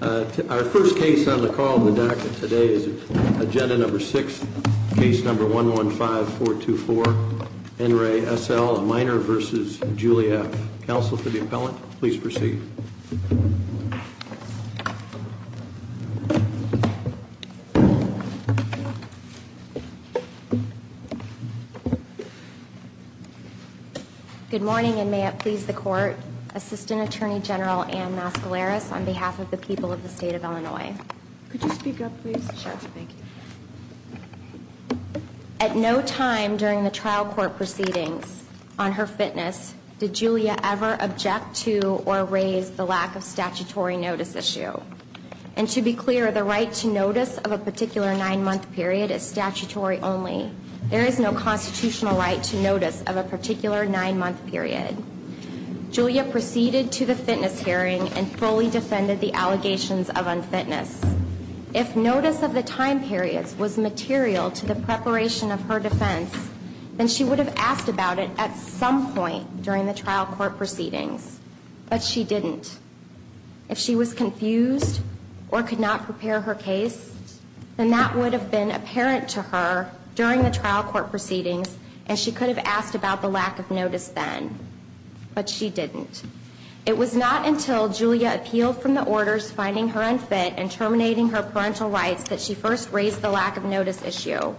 Our first case on the call today is agenda number six case number one one five four two four and Ray S.L. a minor versus Julia counsel for the appellant. Please proceed. Good morning and may it please the court. Assistant Attorney General Ann Mascaleras on behalf of the people of the state of Illinois. Could you speak up please? Sure. Thank you. At no time during the trial court proceedings on her fitness did Julia ever object to or raise the lack of statutory notice issue. And to be clear the right to notice of a particular nine month period is statutory only. There is no constitutional right to notice of a particular nine month period. Julia proceeded to the fitness hearing and fully defended the allegations of unfitness. If notice of the time periods was material to the preparation of her defense, then she would have asked about it at some point during the trial court proceedings. But she didn't. If she was confused or could not prepare her case, then that would have been apparent to her during the trial court proceedings and she could have asked about the lack of notice then. But she didn't. It was not until Julia appealed from the orders finding her unfit and terminating her parental rights that she first raised the lack of notice issue.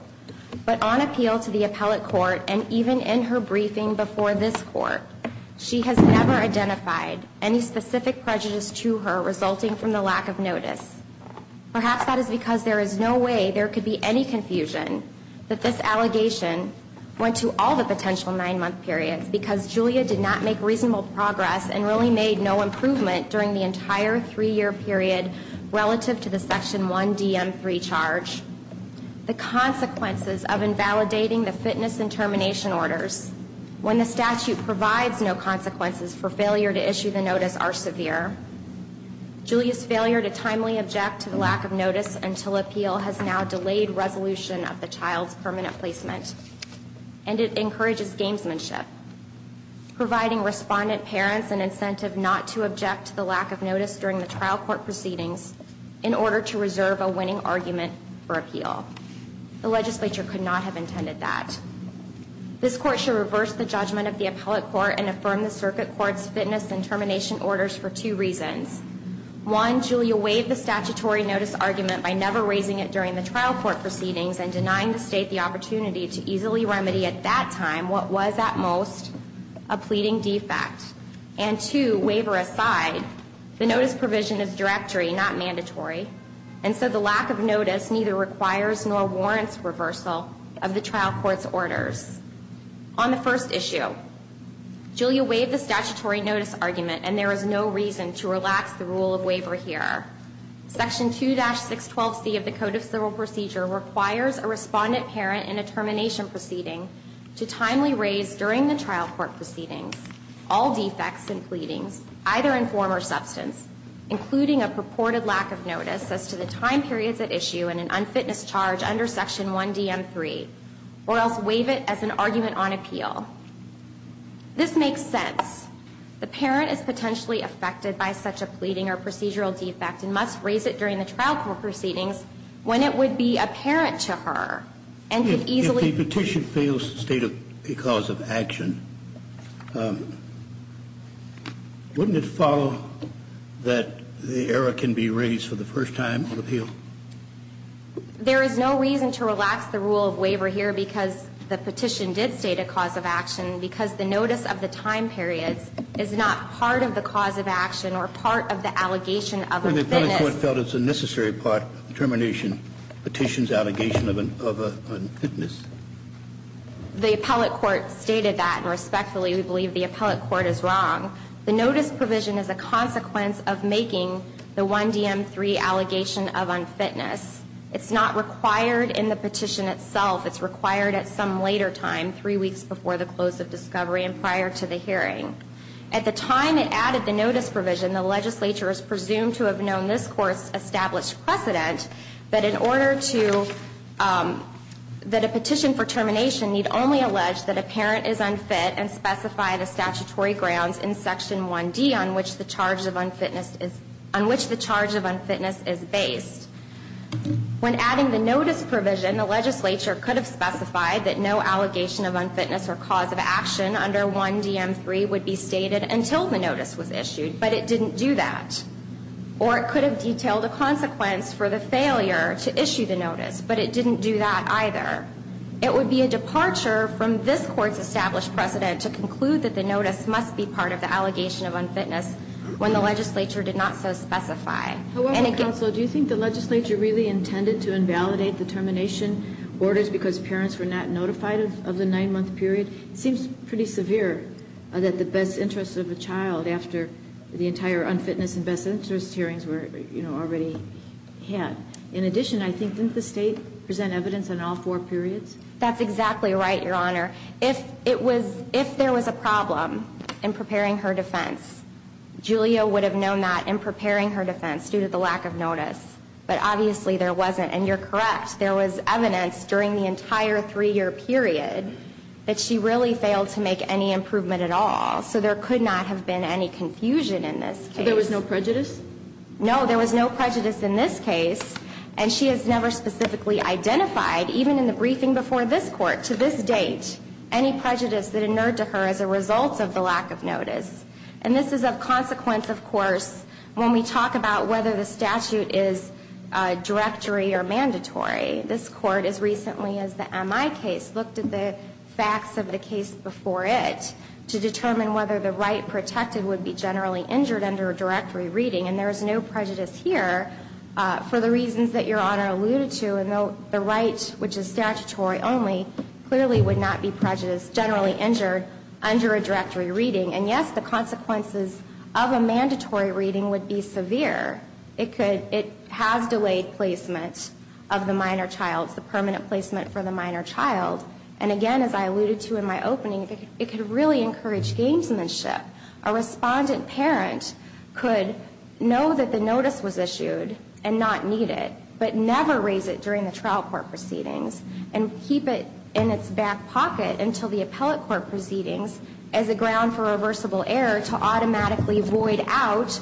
But on appeal to the appellate court and even in her briefing before this court, she has never identified any specific prejudice to her resulting from the lack of notice. Perhaps that is because there is no way there could be any confusion that this allegation went to all the potential nine month periods because Julia did not make reasonable progress and really made no improvement during the entire three year period relative to the Section 1DM3 charge. The consequences of invalidating the fitness and termination orders when the statute provides no consequences for failure to issue the notice are severe. Julia's failure to timely object to the lack of notice until appeal has now delayed resolution of the child's permanent placement and it encourages gamesmanship, providing respondent parents an incentive not to object to the lack of notice during the trial court proceedings in order to reserve a winning argument for appeal. The legislature could not have intended that. This court should reverse the judgment of the appellate court and affirm the circuit court's fitness and termination orders for two reasons. One, Julia waived the statutory notice argument by never raising it during the trial court proceedings and denying the state the opportunity to easily remedy at that time what was at most a pleading defect. And two, waiver aside, the notice provision is directory, not mandatory, and so the lack of notice neither requires nor warrants reversal of the trial court's orders. On the first issue, Julia waived the statutory notice argument and there is no reason to relax the rule of waiver here. Section 2-612C of the Code of Civil Procedure requires a respondent parent in a termination proceeding to timely raise during the trial court proceedings all defects and pleadings, either in form or substance, including a purported lack of notice as to the time periods at issue and an unfitness charge under Section 1DM3 or else waive it as an argument on appeal. This makes sense. The parent is potentially affected by such a pleading or procedural defect and must raise it during the trial court proceedings when it would be apparent to her and could easily If the petition fails to state a cause of action, wouldn't it follow that the error can be raised for the first time on appeal? There is no reason to relax the rule of waiver here because the petition did state a cause of action because the notice of the time periods is not part of the cause of action or part of the allegation of unfitness. The appellate court felt it was a necessary part of the termination petition's allegation of unfitness. The appellate court stated that and respectfully we believe the appellate court is wrong. The notice provision is a consequence of making the 1DM3 allegation of unfitness. It's not required in the petition itself. It's required at some later time, three weeks before the close of discovery and prior to the hearing. At the time it added the notice provision, the legislature is presumed to have known this court's established precedent that a petition for termination need only allege that a parent is unfit and specify the statutory grounds in section 1D on which the charge of unfitness is based. When adding the notice provision, the legislature could have specified that no allegation of unfitness or cause of action under 1DM3 would be stated until the notice was issued, but it didn't do that. Or it could have detailed a consequence for the failure to issue the notice, but it didn't do that either. It would be a departure from this court's established precedent to conclude that the notice must be part of the allegation of unfitness when the legislature did not so specify. However, counsel, do you think the legislature really intended to invalidate the termination orders because parents were not notified of the nine-month period? It seems pretty severe that the best interest of a child after the entire unfitness and best interest hearings were, you know, already had. In addition, I think, didn't the state present evidence in all four periods? That's exactly right, Your Honor. If there was a problem in preparing her defense, Julia would have known that in preparing her defense due to the lack of notice, but obviously there wasn't, and you're correct. There was evidence during the entire three-year period that she really failed to make any improvement at all, so there could not have been any confusion in this case. So there was no prejudice? No, there was no prejudice in this case, and she has never specifically identified, even in the briefing before this Court, to this date, any prejudice that inerred to her as a result of the lack of notice. And this is of consequence, of course, when we talk about whether the statute is directory or mandatory. This Court, as recently as the MI case, looked at the facts of the case before it to determine whether the right protected would be generally injured under a directory reading. And there is no prejudice here for the reasons that Your Honor alluded to. The right, which is statutory only, clearly would not be prejudiced, generally injured, under a directory reading. And yes, the consequences of a mandatory reading would be severe. It has delayed placement of the minor child, the permanent placement for the minor child. And again, as I alluded to in my opening, it could really encourage gamesmanship. A respondent parent could know that the notice was issued and not need it, but never raise it during the trial court proceedings and keep it in its back pocket until the appellate court proceedings as a ground for reversible error to automatically void out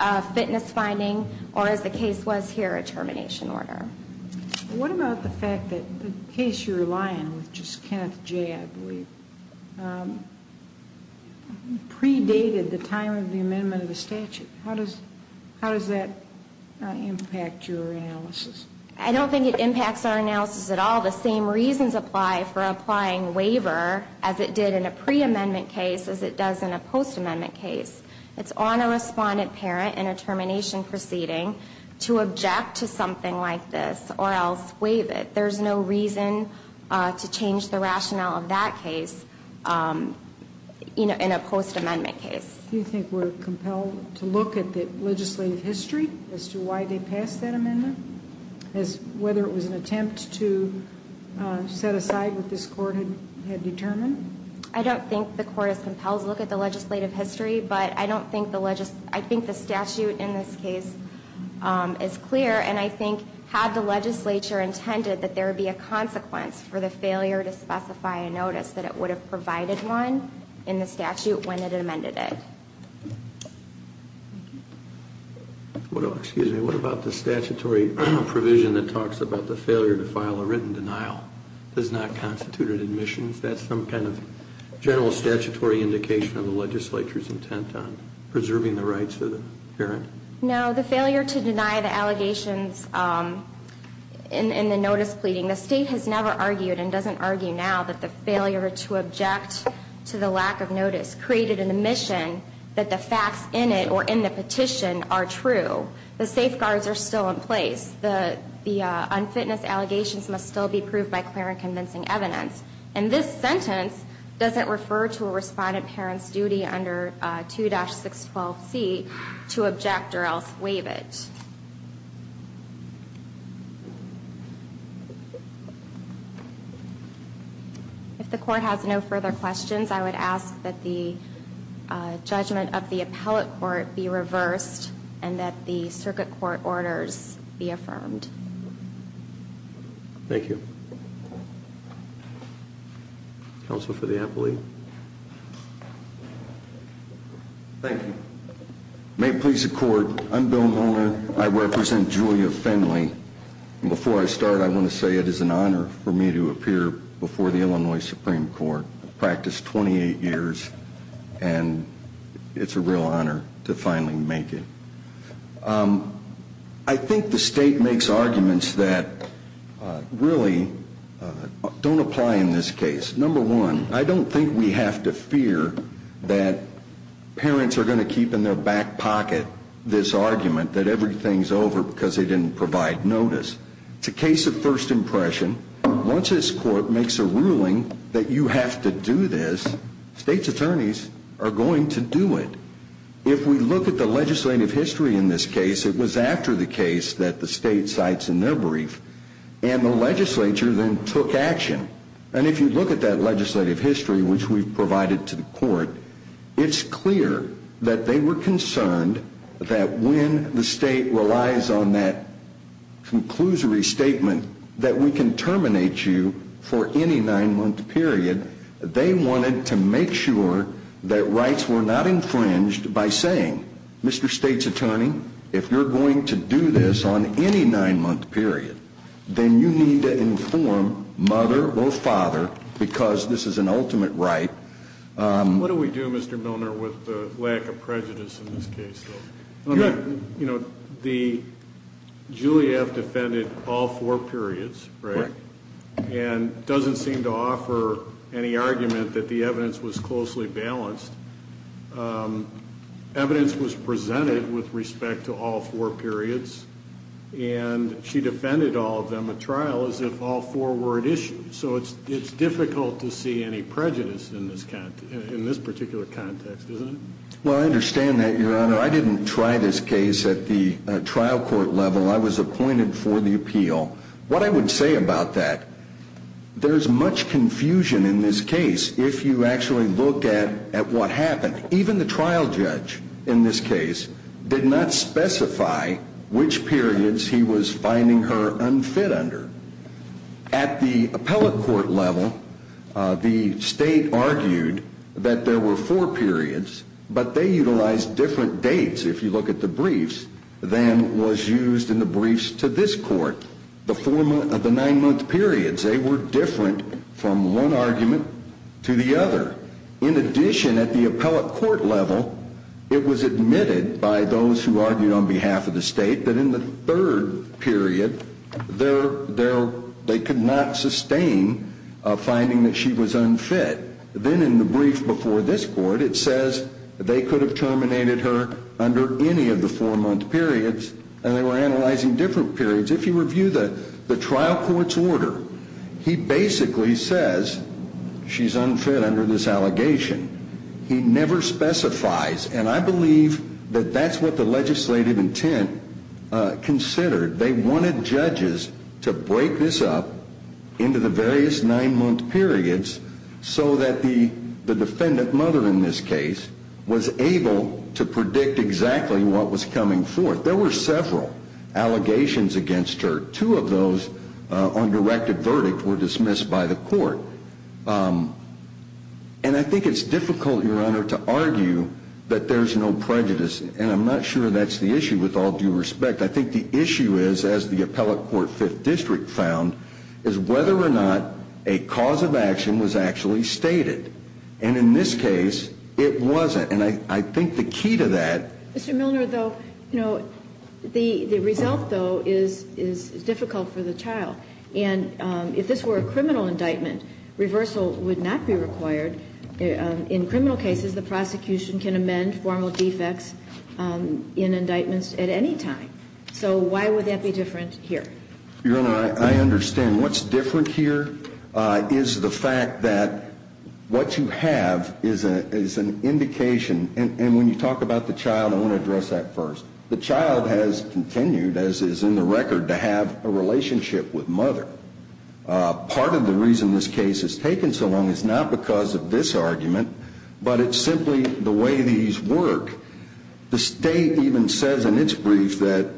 a fitness finding or, as the case was here, a termination order. What about the fact that the case you're relying on, which is Kenneth J., I believe, predated the time of the amendment of the statute? How does that impact your analysis? I don't think it impacts our analysis at all. The same reasons apply for applying waiver as it did in a preamendment case as it does in a postamendment case. It's on a respondent parent in a termination proceeding to object to something like this or else waive it. There's no reason to change the rationale of that case in a postamendment case. Do you think we're compelled to look at the legislative history as to why they passed that amendment, whether it was an attempt to set aside what this court had determined? I don't think the court is compelled to look at the legislative history, but I think the statute in this case is clear, and I think had the legislature intended that there be a consequence for the failure to specify a notice that it would have provided one in the statute when it amended it. Excuse me. What about the statutory provision that talks about the failure to file a written denial? Does that constitute an admission? That's some kind of general statutory indication of the legislature's intent on preserving the rights of the parent? No. The failure to deny the allegations in the notice pleading, the state has never argued and doesn't argue now that the failure to object to the lack of notice created an admission that the facts in it or in the petition are true. The safeguards are still in place. The unfitness allegations must still be proved by clear and convincing evidence, and this sentence doesn't refer to a respondent parent's duty under 2-612C to object or else waive it. If the court has no further questions, I would ask that the judgment of the appellate court be reversed and that the circuit court orders be affirmed. Thank you. Counsel for the appellate. Thank you. May it please the court, I'm Bill Mullen. I represent Julia Finley. Before I start, I want to say it is an honor for me to appear before the Illinois Supreme Court. I've practiced 28 years, and it's a real honor to finally make it. I think the state makes arguments that really don't apply in this case. Number one, I don't think we have to fear that parents are going to keep in their back pocket this argument that everything's over because they didn't provide notice. It's a case of first impression. Once this court makes a ruling that you have to do this, state's attorneys are going to do it. If we look at the legislative history in this case, it was after the case that the state cites in their brief, and the legislature then took action. And if you look at that legislative history, which we've provided to the court, it's clear that they were concerned that when the state relies on that conclusory statement that we can terminate you for any nine-month period, they wanted to make sure that rights were not infringed by saying, Mr. State's attorney, if you're going to do this on any nine-month period, then you need to inform mother or father because this is an ultimate right. What do we do, Mr. Milner, with the lack of prejudice in this case? You know, the Juliet defended all four periods, right, and doesn't seem to offer any argument that the evidence was closely balanced. Evidence was presented with respect to all four periods, and she defended all of them at trial as if all four were at issue. So it's difficult to see any prejudice in this particular context, isn't it? Well, I understand that, Your Honor. I didn't try this case at the trial court level. I was appointed for the appeal. What I would say about that, there is much confusion in this case if you actually look at what happened. Even the trial judge in this case did not specify which periods he was finding her unfit under. At the appellate court level, the state argued that there were four periods, but they utilized different dates, if you look at the briefs, than was used in the briefs to this court. The nine-month periods, they were different from one argument to the other. In addition, at the appellate court level, it was admitted by those who argued on behalf of the state that in the third period, they could not sustain a finding that she was unfit. Then in the brief before this court, it says they could have terminated her under any of the four-month periods, and they were analyzing different periods. If you review the trial court's order, he basically says she's unfit under this allegation. He never specifies, and I believe that that's what the legislative intent considered. They wanted judges to break this up into the various nine-month periods so that the defendant mother in this case was able to predict exactly what was coming forth. There were several allegations against her. Two of those on directed verdict were dismissed by the court. And I think it's difficult, Your Honor, to argue that there's no prejudice, and I'm not sure that's the issue with all due respect. I think the issue is, as the appellate court fifth district found, is whether or not a cause of action was actually stated. And in this case, it wasn't. And I think the key to that ---- Mr. Milner, though, you know, the result, though, is difficult for the child. And if this were a criminal indictment, reversal would not be required. In criminal cases, the prosecution can amend formal defects in indictments at any time. So why would that be different here? Your Honor, I understand. What's different here is the fact that what you have is an indication. And when you talk about the child, I want to address that first. The child has continued, as is in the record, to have a relationship with mother. Part of the reason this case has taken so long is not because of this argument, but it's simply the way these work. The state even says in its brief that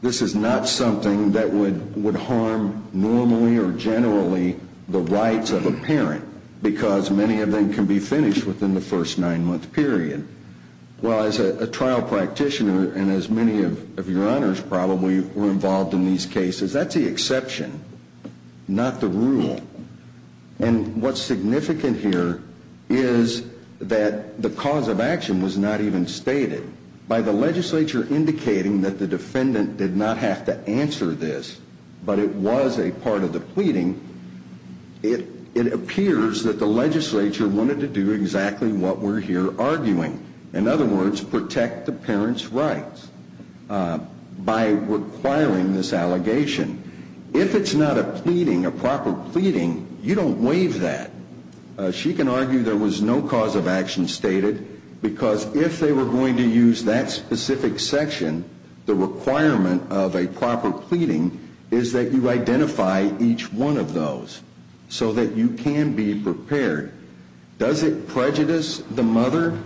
this is not something that would harm normally or generally the rights of a parent, because many of them can be finished within the first nine-month period. Well, as a trial practitioner, and as many of your honors probably were involved in these cases, that's the exception, not the rule. And what's significant here is that the cause of action was not even stated. By the legislature indicating that the defendant did not have to answer this, but it was a part of the pleading, it appears that the legislature wanted to do exactly what we're here arguing. In other words, protect the parent's rights by requiring this allegation. If it's not a pleading, a proper pleading, you don't waive that. She can argue there was no cause of action stated, because if they were going to use that specific section, the requirement of a proper pleading is that you identify each one of those so that you can be prepared. Does it prejudice the mother?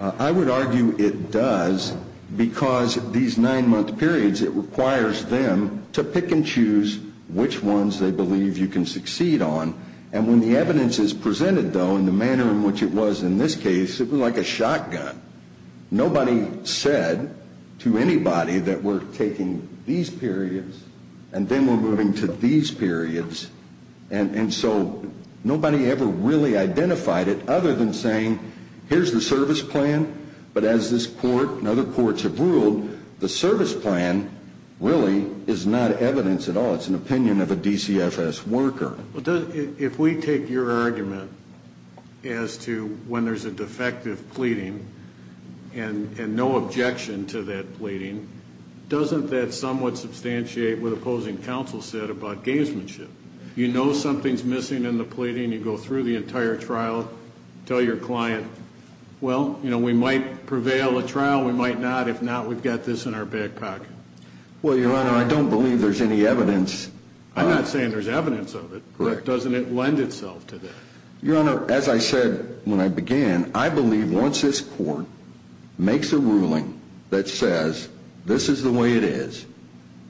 I would argue it does, because these nine-month periods, it requires them to pick and choose which ones they believe you can succeed on. And when the evidence is presented, though, in the manner in which it was in this case, it was like a shotgun. Nobody said to anybody that we're taking these periods and then we're moving to these periods. And so nobody ever really identified it other than saying, here's the service plan, but as this court and other courts have ruled, the service plan really is not evidence at all. It's an opinion of a DCFS worker. If we take your argument as to when there's a defective pleading and no objection to that pleading, doesn't that somewhat substantiate what opposing counsel said about gamesmanship? You know something's missing in the pleading, you go through the entire trial, tell your client, well, you know, we might prevail a trial, we might not. If not, we've got this in our back pocket. Well, Your Honor, I don't believe there's any evidence. I'm not saying there's evidence of it. Doesn't it lend itself to that? Your Honor, as I said when I began, I believe once this court makes a ruling that says this is the way it is,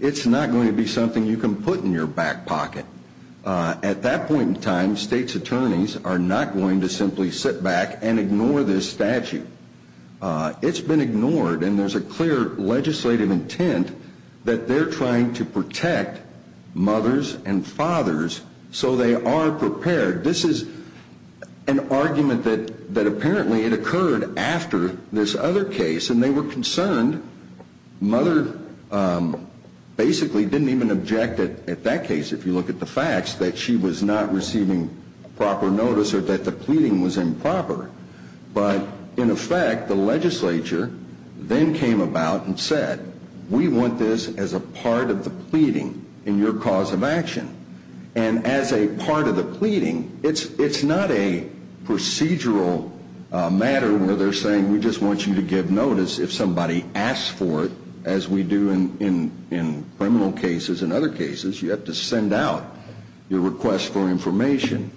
it's not going to be something you can put in your back pocket. At that point in time, states' attorneys are not going to simply sit back and ignore this statute. It's been ignored, and there's a clear legislative intent that they're trying to protect mothers and fathers so they are prepared. This is an argument that apparently it occurred after this other case, and they were concerned. Mother basically didn't even object at that case, if you look at the facts, that she was not receiving proper notice or that the pleading was improper. But in effect, the legislature then came about and said, we want this as a part of the pleading in your cause of action. And as a part of the pleading, it's not a procedural matter where they're saying, we just want you to give notice if somebody asks for it, as we do in criminal cases and other cases. You have to send out your request for information.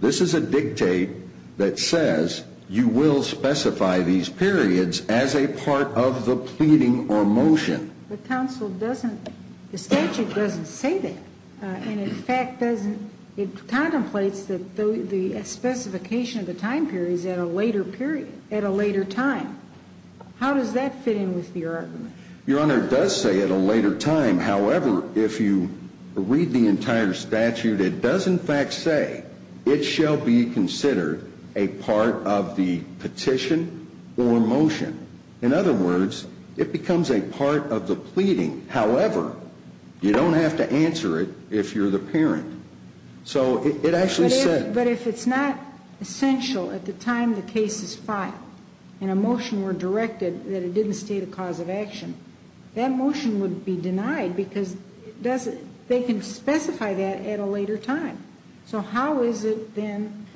This is a dictate that says you will specify these periods as a part of the pleading or motion. But counsel, the statute doesn't say that. And in fact, it contemplates the specification of the time periods at a later period, at a later time. How does that fit in with your argument? Your Honor, it does say at a later time. However, if you read the entire statute, it does in fact say, it shall be considered a part of the petition or motion. In other words, it becomes a part of the pleading. However, you don't have to answer it if you're the parent. But if it's not essential at the time the case is filed, and a motion were directed that it didn't state a cause of action, that motion would be denied because they can specify that at a later time. So how is it then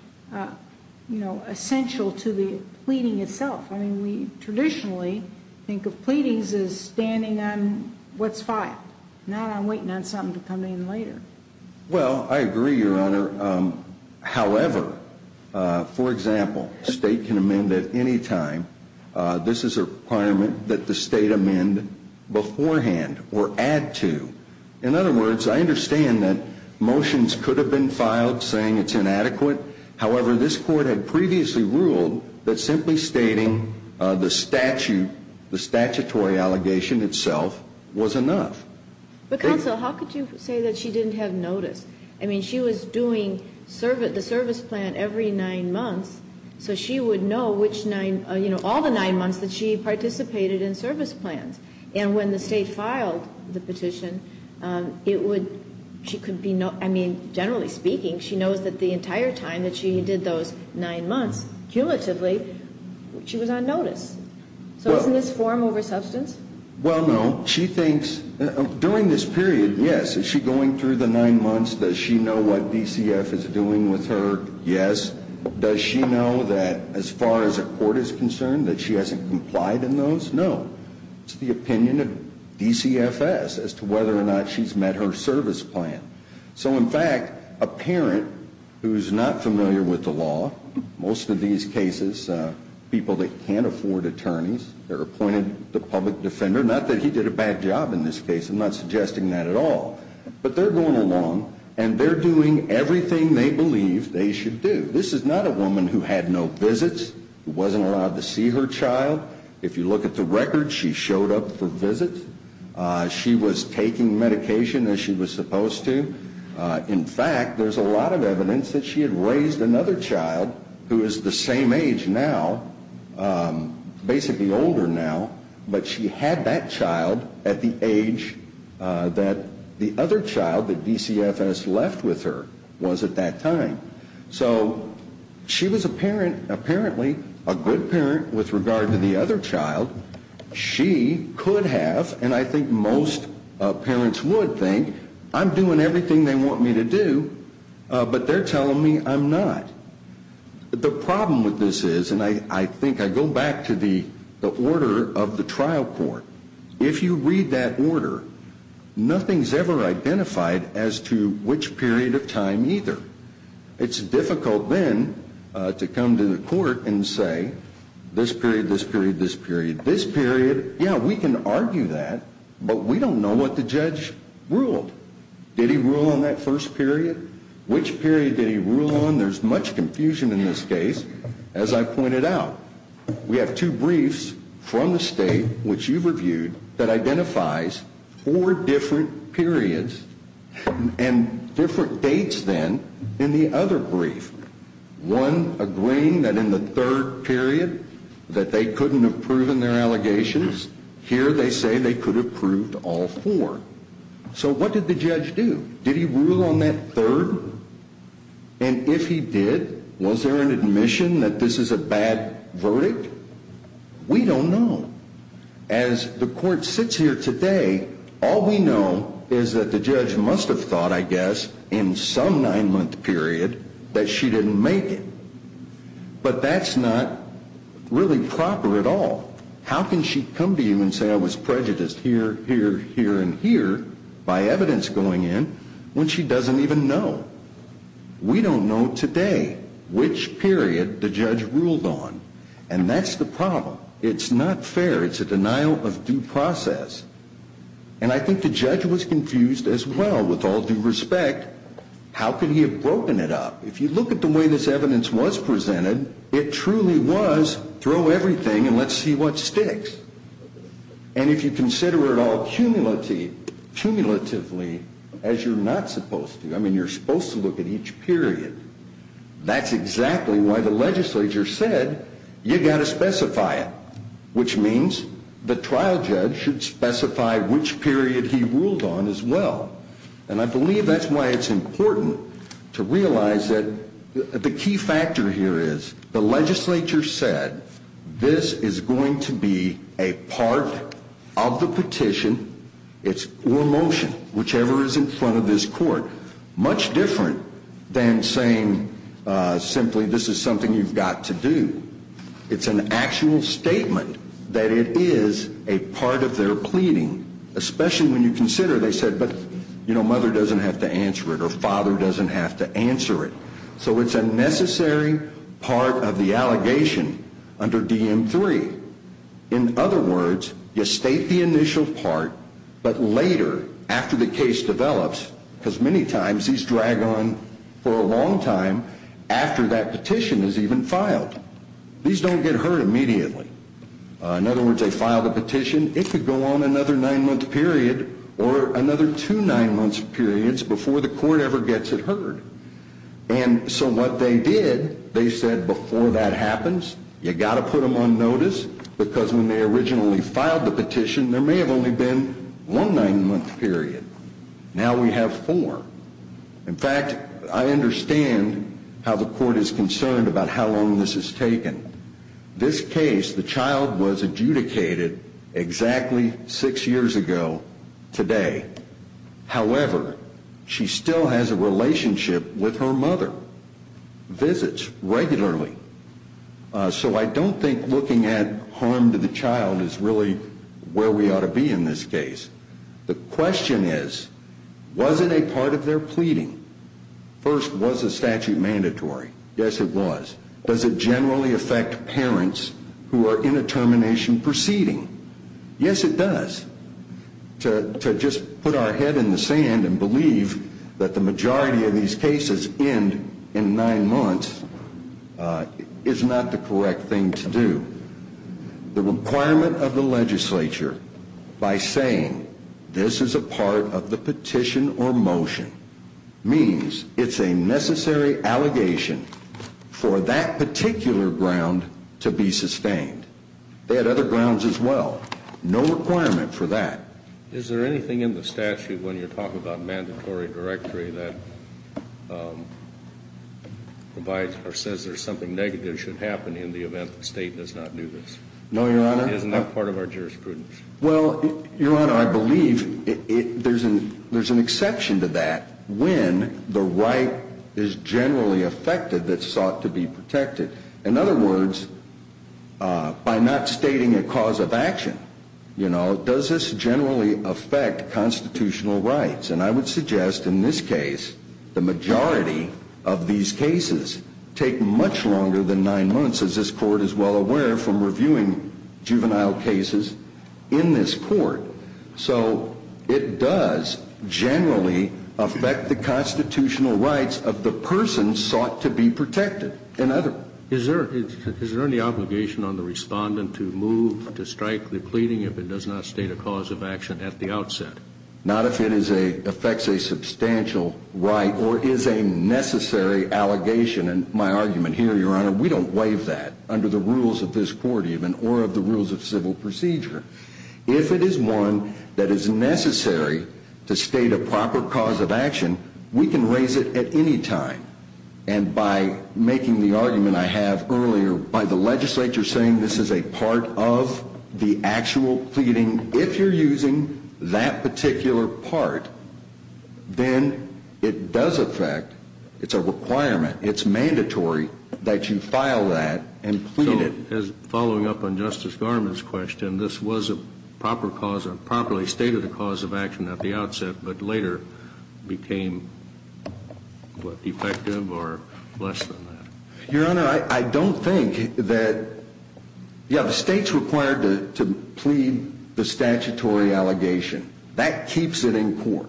essential to the pleading itself? I mean, we traditionally think of pleadings as standing on what's filed, not on waiting on something to come in later. Well, I agree, Your Honor. However, for example, a state can amend at any time. This is a requirement that the state amend beforehand or add to. In other words, I understand that motions could have been filed saying it's inadequate. However, this Court had previously ruled that simply stating the statute, the statutory allegation itself, was enough. But, counsel, how could you say that she didn't have notice? I mean, she was doing the service plan every nine months, so she would know which nine, you know, all the nine months that she participated in service plans. And when the state filed the petition, it would, she could be, I mean, generally speaking, she knows that the entire time that she did those nine months, cumulatively, she was on notice. So isn't this form over substance? Well, no. She thinks, during this period, yes, is she going through the nine months? Does she know what DCF is doing with her? Yes. Does she know that as far as the Court is concerned that she hasn't complied in those? No. It's the opinion of DCFS as to whether or not she's met her service plan. So, in fact, a parent who's not familiar with the law, most of these cases, people that can't afford attorneys, they're appointed the public defender. Not that he did a bad job in this case. I'm not suggesting that at all. But they're going along, and they're doing everything they believe they should do. This is not a woman who had no visits, who wasn't allowed to see her child. If you look at the record, she showed up for visits. She was taking medication as she was supposed to. In fact, there's a lot of evidence that she had raised another child who is the same age now, basically older now, but she had that child at the age that the other child that DCFS left with her was at that time. So she was apparently a good parent with regard to the other child. She could have, and I think most parents would think, I'm doing everything they want me to do, but they're telling me I'm not. The problem with this is, and I think I go back to the order of the trial court, if you read that order, nothing's ever identified as to which period of time either. It's difficult then to come to the court and say this period, this period, this period, this period. Yeah, we can argue that, but we don't know what the judge ruled. Did he rule on that first period? Which period did he rule on? There's much confusion in this case. As I pointed out, we have two briefs from the state, which you've reviewed, that identifies four different periods and different dates then in the other brief. One agreeing that in the third period that they couldn't have proven their allegations. Here they say they could have proved all four. So what did the judge do? Did he rule on that third? And if he did, was there an admission that this is a bad verdict? We don't know. As the court sits here today, all we know is that the judge must have thought, I guess, in some nine-month period that she didn't make it. But that's not really proper at all. How can she come to you and say I was prejudiced here, here, here, and here by evidence going in when she doesn't even know? We don't know today which period the judge ruled on. And that's the problem. It's not fair. It's a denial of due process. And I think the judge was confused as well with all due respect. How could he have broken it up? If you look at the way this evidence was presented, it truly was throw everything and let's see what sticks. And if you consider it all cumulatively as you're not supposed to, I mean, you're supposed to look at each period. That's exactly why the legislature said you've got to specify it, which means the trial judge should specify which period he ruled on as well. And I believe that's why it's important to realize that the key factor here is the legislature said this is going to be a part of the petition or motion, whichever is in front of this court, much different than saying simply this is something you've got to do. It's an actual statement that it is a part of their pleading, especially when you consider they said, but, you know, mother doesn't have to answer it or father doesn't have to answer it. So it's a necessary part of the allegation under DM3. In other words, you state the initial part, but later, after the case develops, because many times these drag on for a long time after that petition is even filed. These don't get heard immediately. In other words, they file the petition. It could go on another nine-month period or another two nine-month periods before the court ever gets it heard. And so what they did, they said before that happens, you've got to put them on notice because when they originally filed the petition, there may have only been one nine-month period. Now we have four. In fact, I understand how the court is concerned about how long this has taken. This case, the child was adjudicated exactly six years ago today. However, she still has a relationship with her mother, visits regularly. So I don't think looking at harm to the child is really where we ought to be in this case. The question is, was it a part of their pleading? First, was the statute mandatory? Yes, it was. Does it generally affect parents who are in a termination proceeding? Yes, it does. To just put our head in the sand and believe that the majority of these cases end in nine months is not the correct thing to do. The requirement of the legislature by saying this is a part of the petition or motion means it's a necessary allegation for that particular ground to be sustained. They had other grounds as well. No requirement for that. Is there anything in the statute when you're talking about mandatory directory that provides or says there's something negative should happen in the event the state does not do this? No, Your Honor. Isn't that part of our jurisprudence? Well, Your Honor, I believe there's an exception to that when the right is generally affected that's sought to be protected. In other words, by not stating a cause of action, does this generally affect constitutional rights? And I would suggest in this case the majority of these cases take much longer than nine months, as this Court is well aware from reviewing juvenile cases in this Court. So it does generally affect the constitutional rights of the person sought to be protected. Is there any obligation on the respondent to move to strike the pleading if it does not state a cause of action at the outset? Not if it affects a substantial right or is a necessary allegation. And my argument here, Your Honor, we don't waive that under the rules of this Court even or of the rules of civil procedure. If it is one that is necessary to state a proper cause of action, we can raise it at any time. And by making the argument I have earlier, by the legislature saying this is a part of the actual pleading, if you're using that particular part, then it does affect, it's a requirement, it's mandatory that you file that and plead it. So following up on Justice Garment's question, this was a proper cause, a properly stated cause of action at the outset, but later became, what, effective or less than that? Your Honor, I don't think that, yeah, the State's required to plead the statutory allegation. That keeps it in court.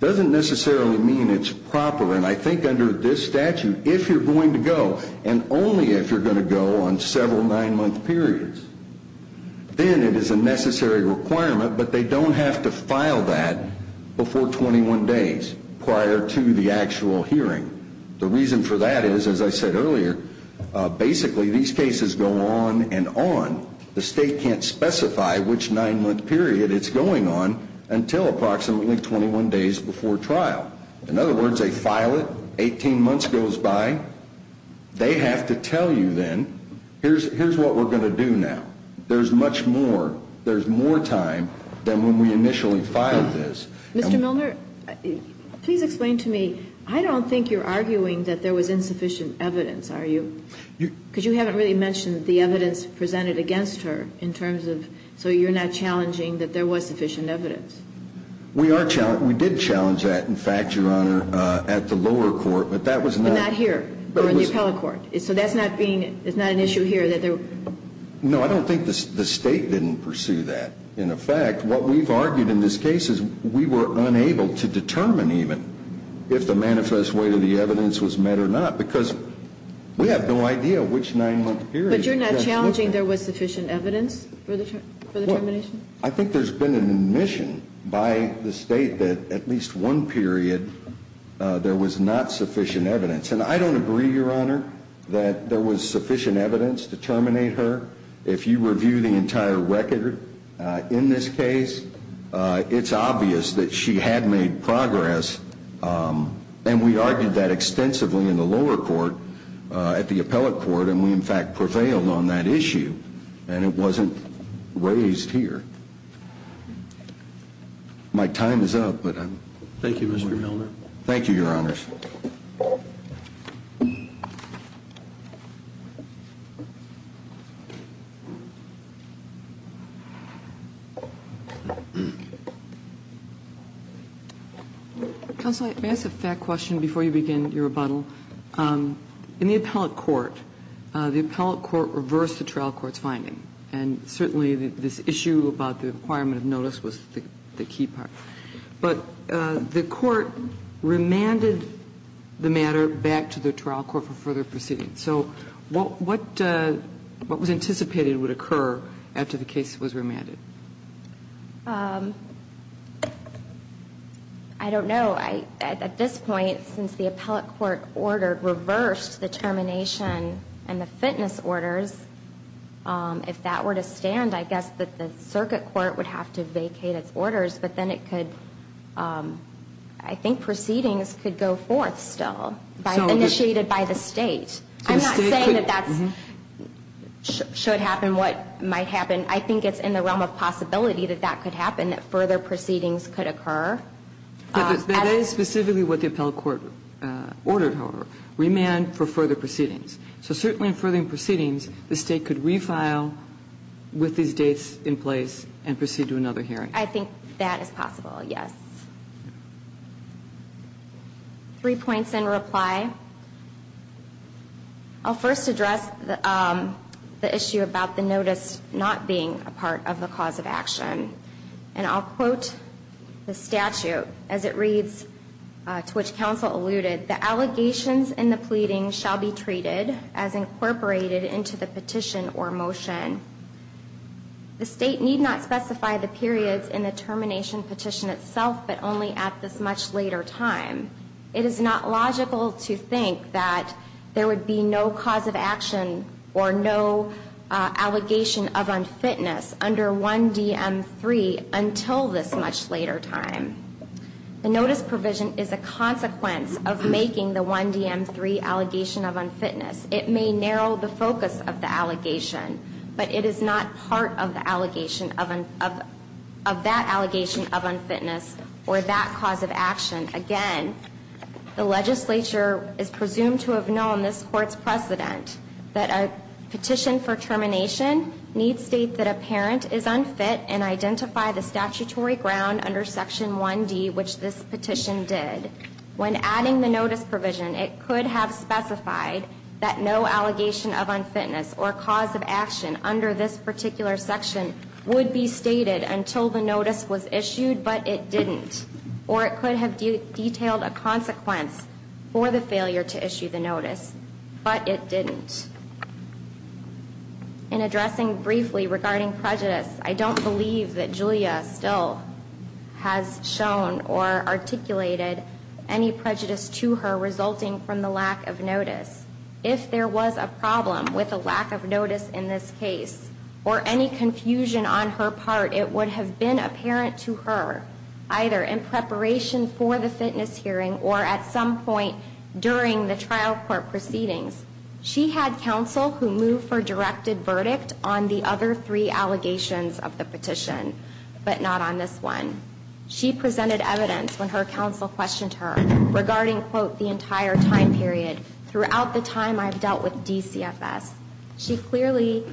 It doesn't necessarily mean it's proper, and I think under this statute, if you're going to go, and only if you're going to go on several nine-month periods, then it is a necessary requirement, but they don't have to file that before 21 days prior to the actual hearing. The reason for that is, as I said earlier, basically these cases go on and on. The State can't specify which nine-month period it's going on until approximately 21 days before trial. In other words, they file it, 18 months goes by, they have to tell you then, here's what we're going to do now. There's much more, there's more time than when we initially filed this. Mr. Milner, please explain to me, I don't think you're arguing that there was insufficient evidence, are you? Because you haven't really mentioned the evidence presented against her in terms of, so you're not challenging that there was sufficient evidence. We are challenging, we did challenge that, in fact, Your Honor, at the lower court, but that was not. But not here, or in the appellate court. So that's not being, it's not an issue here that there were. No, I don't think the State didn't pursue that. In effect, what we've argued in this case is we were unable to determine even if the manifest weight of the evidence was met or not. Because we have no idea which nine-month period. But you're not challenging there was sufficient evidence for the termination? I think there's been an admission by the State that at least one period there was not sufficient evidence. And I don't agree, Your Honor, that there was sufficient evidence to terminate her. If you review the entire record in this case, it's obvious that she had made progress. And we argued that extensively in the lower court, at the appellate court. And we, in fact, prevailed on that issue. And it wasn't raised here. My time is up. Thank you, Mr. Milner. Thank you, Your Honors. Counsel, may I ask a fact question before you begin your rebuttal? In the appellate court, the appellate court reversed the trial court's finding. And certainly this issue about the requirement of notice was the key part. But the court remanded the matter back to the trial court for further proceedings. So what was anticipated would occur after the case was remanded? I don't know. At this point, since the appellate court reversed the termination and the fitness orders, if that were to stand, I guess that the circuit court would have to vacate its orders, but then it could, I think proceedings could go forth still, initiated by the State. I'm not saying that that should happen, what might happen. I think it's in the realm of possibility that that could happen, that further proceedings could occur. That is specifically what the appellate court ordered, however, remand for further proceedings. So certainly in further proceedings, the State could refile with these dates in place and proceed to another hearing. I think that is possible, yes. Three points in reply. I'll first address the issue about the notice not being a part of the cause of action. And I'll quote the statute as it reads, to which counsel alluded, the allegations in the pleading shall be treated as incorporated into the petition or motion. The State need not specify the periods in the termination petition itself, but only at this much later time. It is not logical to think that there would be no cause of action or no allegation of unfitness under 1DM3 until this much later time. The notice provision is a consequence of making the 1DM3 allegation of unfitness. It may narrow the focus of the allegation, but it is not part of the allegation of that allegation of unfitness or that cause of action. Again, the legislature is presumed to have known this court's precedent, that a petition for termination needs state that a parent is unfit and identify the statutory ground under Section 1D, which this petition did. When adding the notice provision, it could have specified that no allegation of unfitness or cause of action under this particular section would be stated until the notice was issued, but it didn't. Or it could have detailed a consequence for the failure to issue the notice, but it didn't. In addressing briefly regarding prejudice, I don't believe that Julia still has shown or articulated any prejudice to her resulting from the lack of notice. If there was a problem with a lack of notice in this case or any confusion on her part, it would have been apparent to her either in preparation for the fitness hearing or at some point during the trial court proceedings. She had counsel who moved for directed verdict on the other three allegations of the petition, but not on this one. She presented evidence when her counsel questioned her regarding, quote, the entire time period throughout the time I've dealt with DCFS. She clearly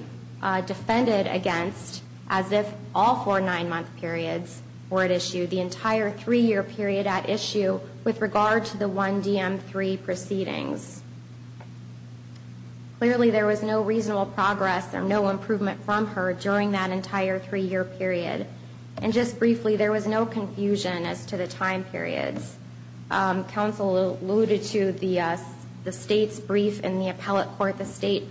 defended against, as if all four nine-month periods were at issue, the entire three-year period at issue with regard to the 1DM3 proceedings. Clearly, there was no reasonable progress or no improvement from her during that entire three-year period, and just briefly, there was no confusion as to the time periods. Counsel alluded to the state's brief in the appellate court. The state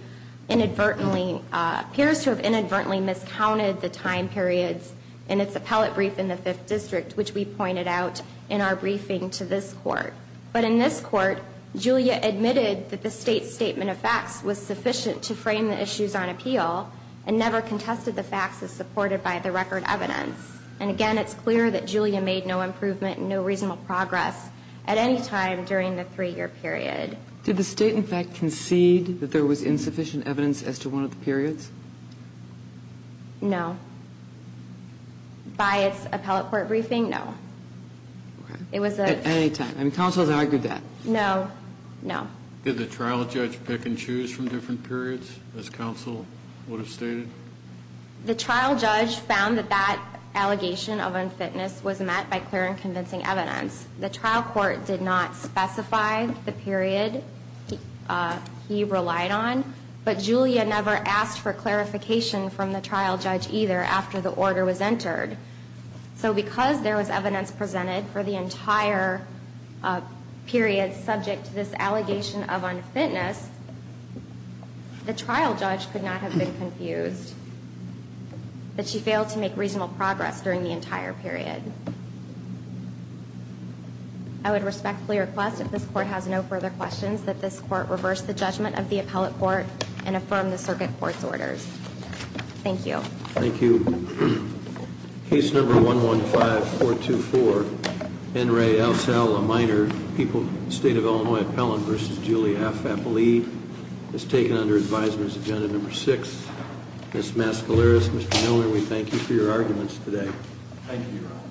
inadvertently appears to have inadvertently miscounted the time periods in its appellate brief in the Fifth District, which we pointed out in our briefing to this court. But in this court, Julia admitted that the state's statement of facts was sufficient to frame the issues on appeal, and never contested the facts as supported by the record evidence. And again, it's clear that Julia made no improvement and no reasonable progress at any time during the three-year period. Did the state, in fact, concede that there was insufficient evidence as to one of the periods? No. By its appellate court briefing, no. It was a... At any time. Counsel has argued that. No. No. Did the trial judge pick and choose from different periods, as counsel would have stated? The trial judge found that that allegation of unfitness was met by clear and convincing evidence. The trial court did not specify the period he relied on, but Julia never asked for clarification from the trial judge either after the order was entered. So because there was evidence presented for the entire period subject to this allegation of unfitness, the trial judge could not have been confused that she failed to make reasonable progress during the entire period. I would respectfully request, if this court has no further questions, that this court reverse the judgment of the appellate court and affirm the circuit court's orders. Thank you. Thank you. Case number 115-424, N. Ray Alsall, a minor, State of Illinois Appellant v. Julia F. Appley, is taken under advisement as agenda number 6. Ms. Mascaleras, Mr. Milner, we thank you for your arguments today. Thank you, Your Honor.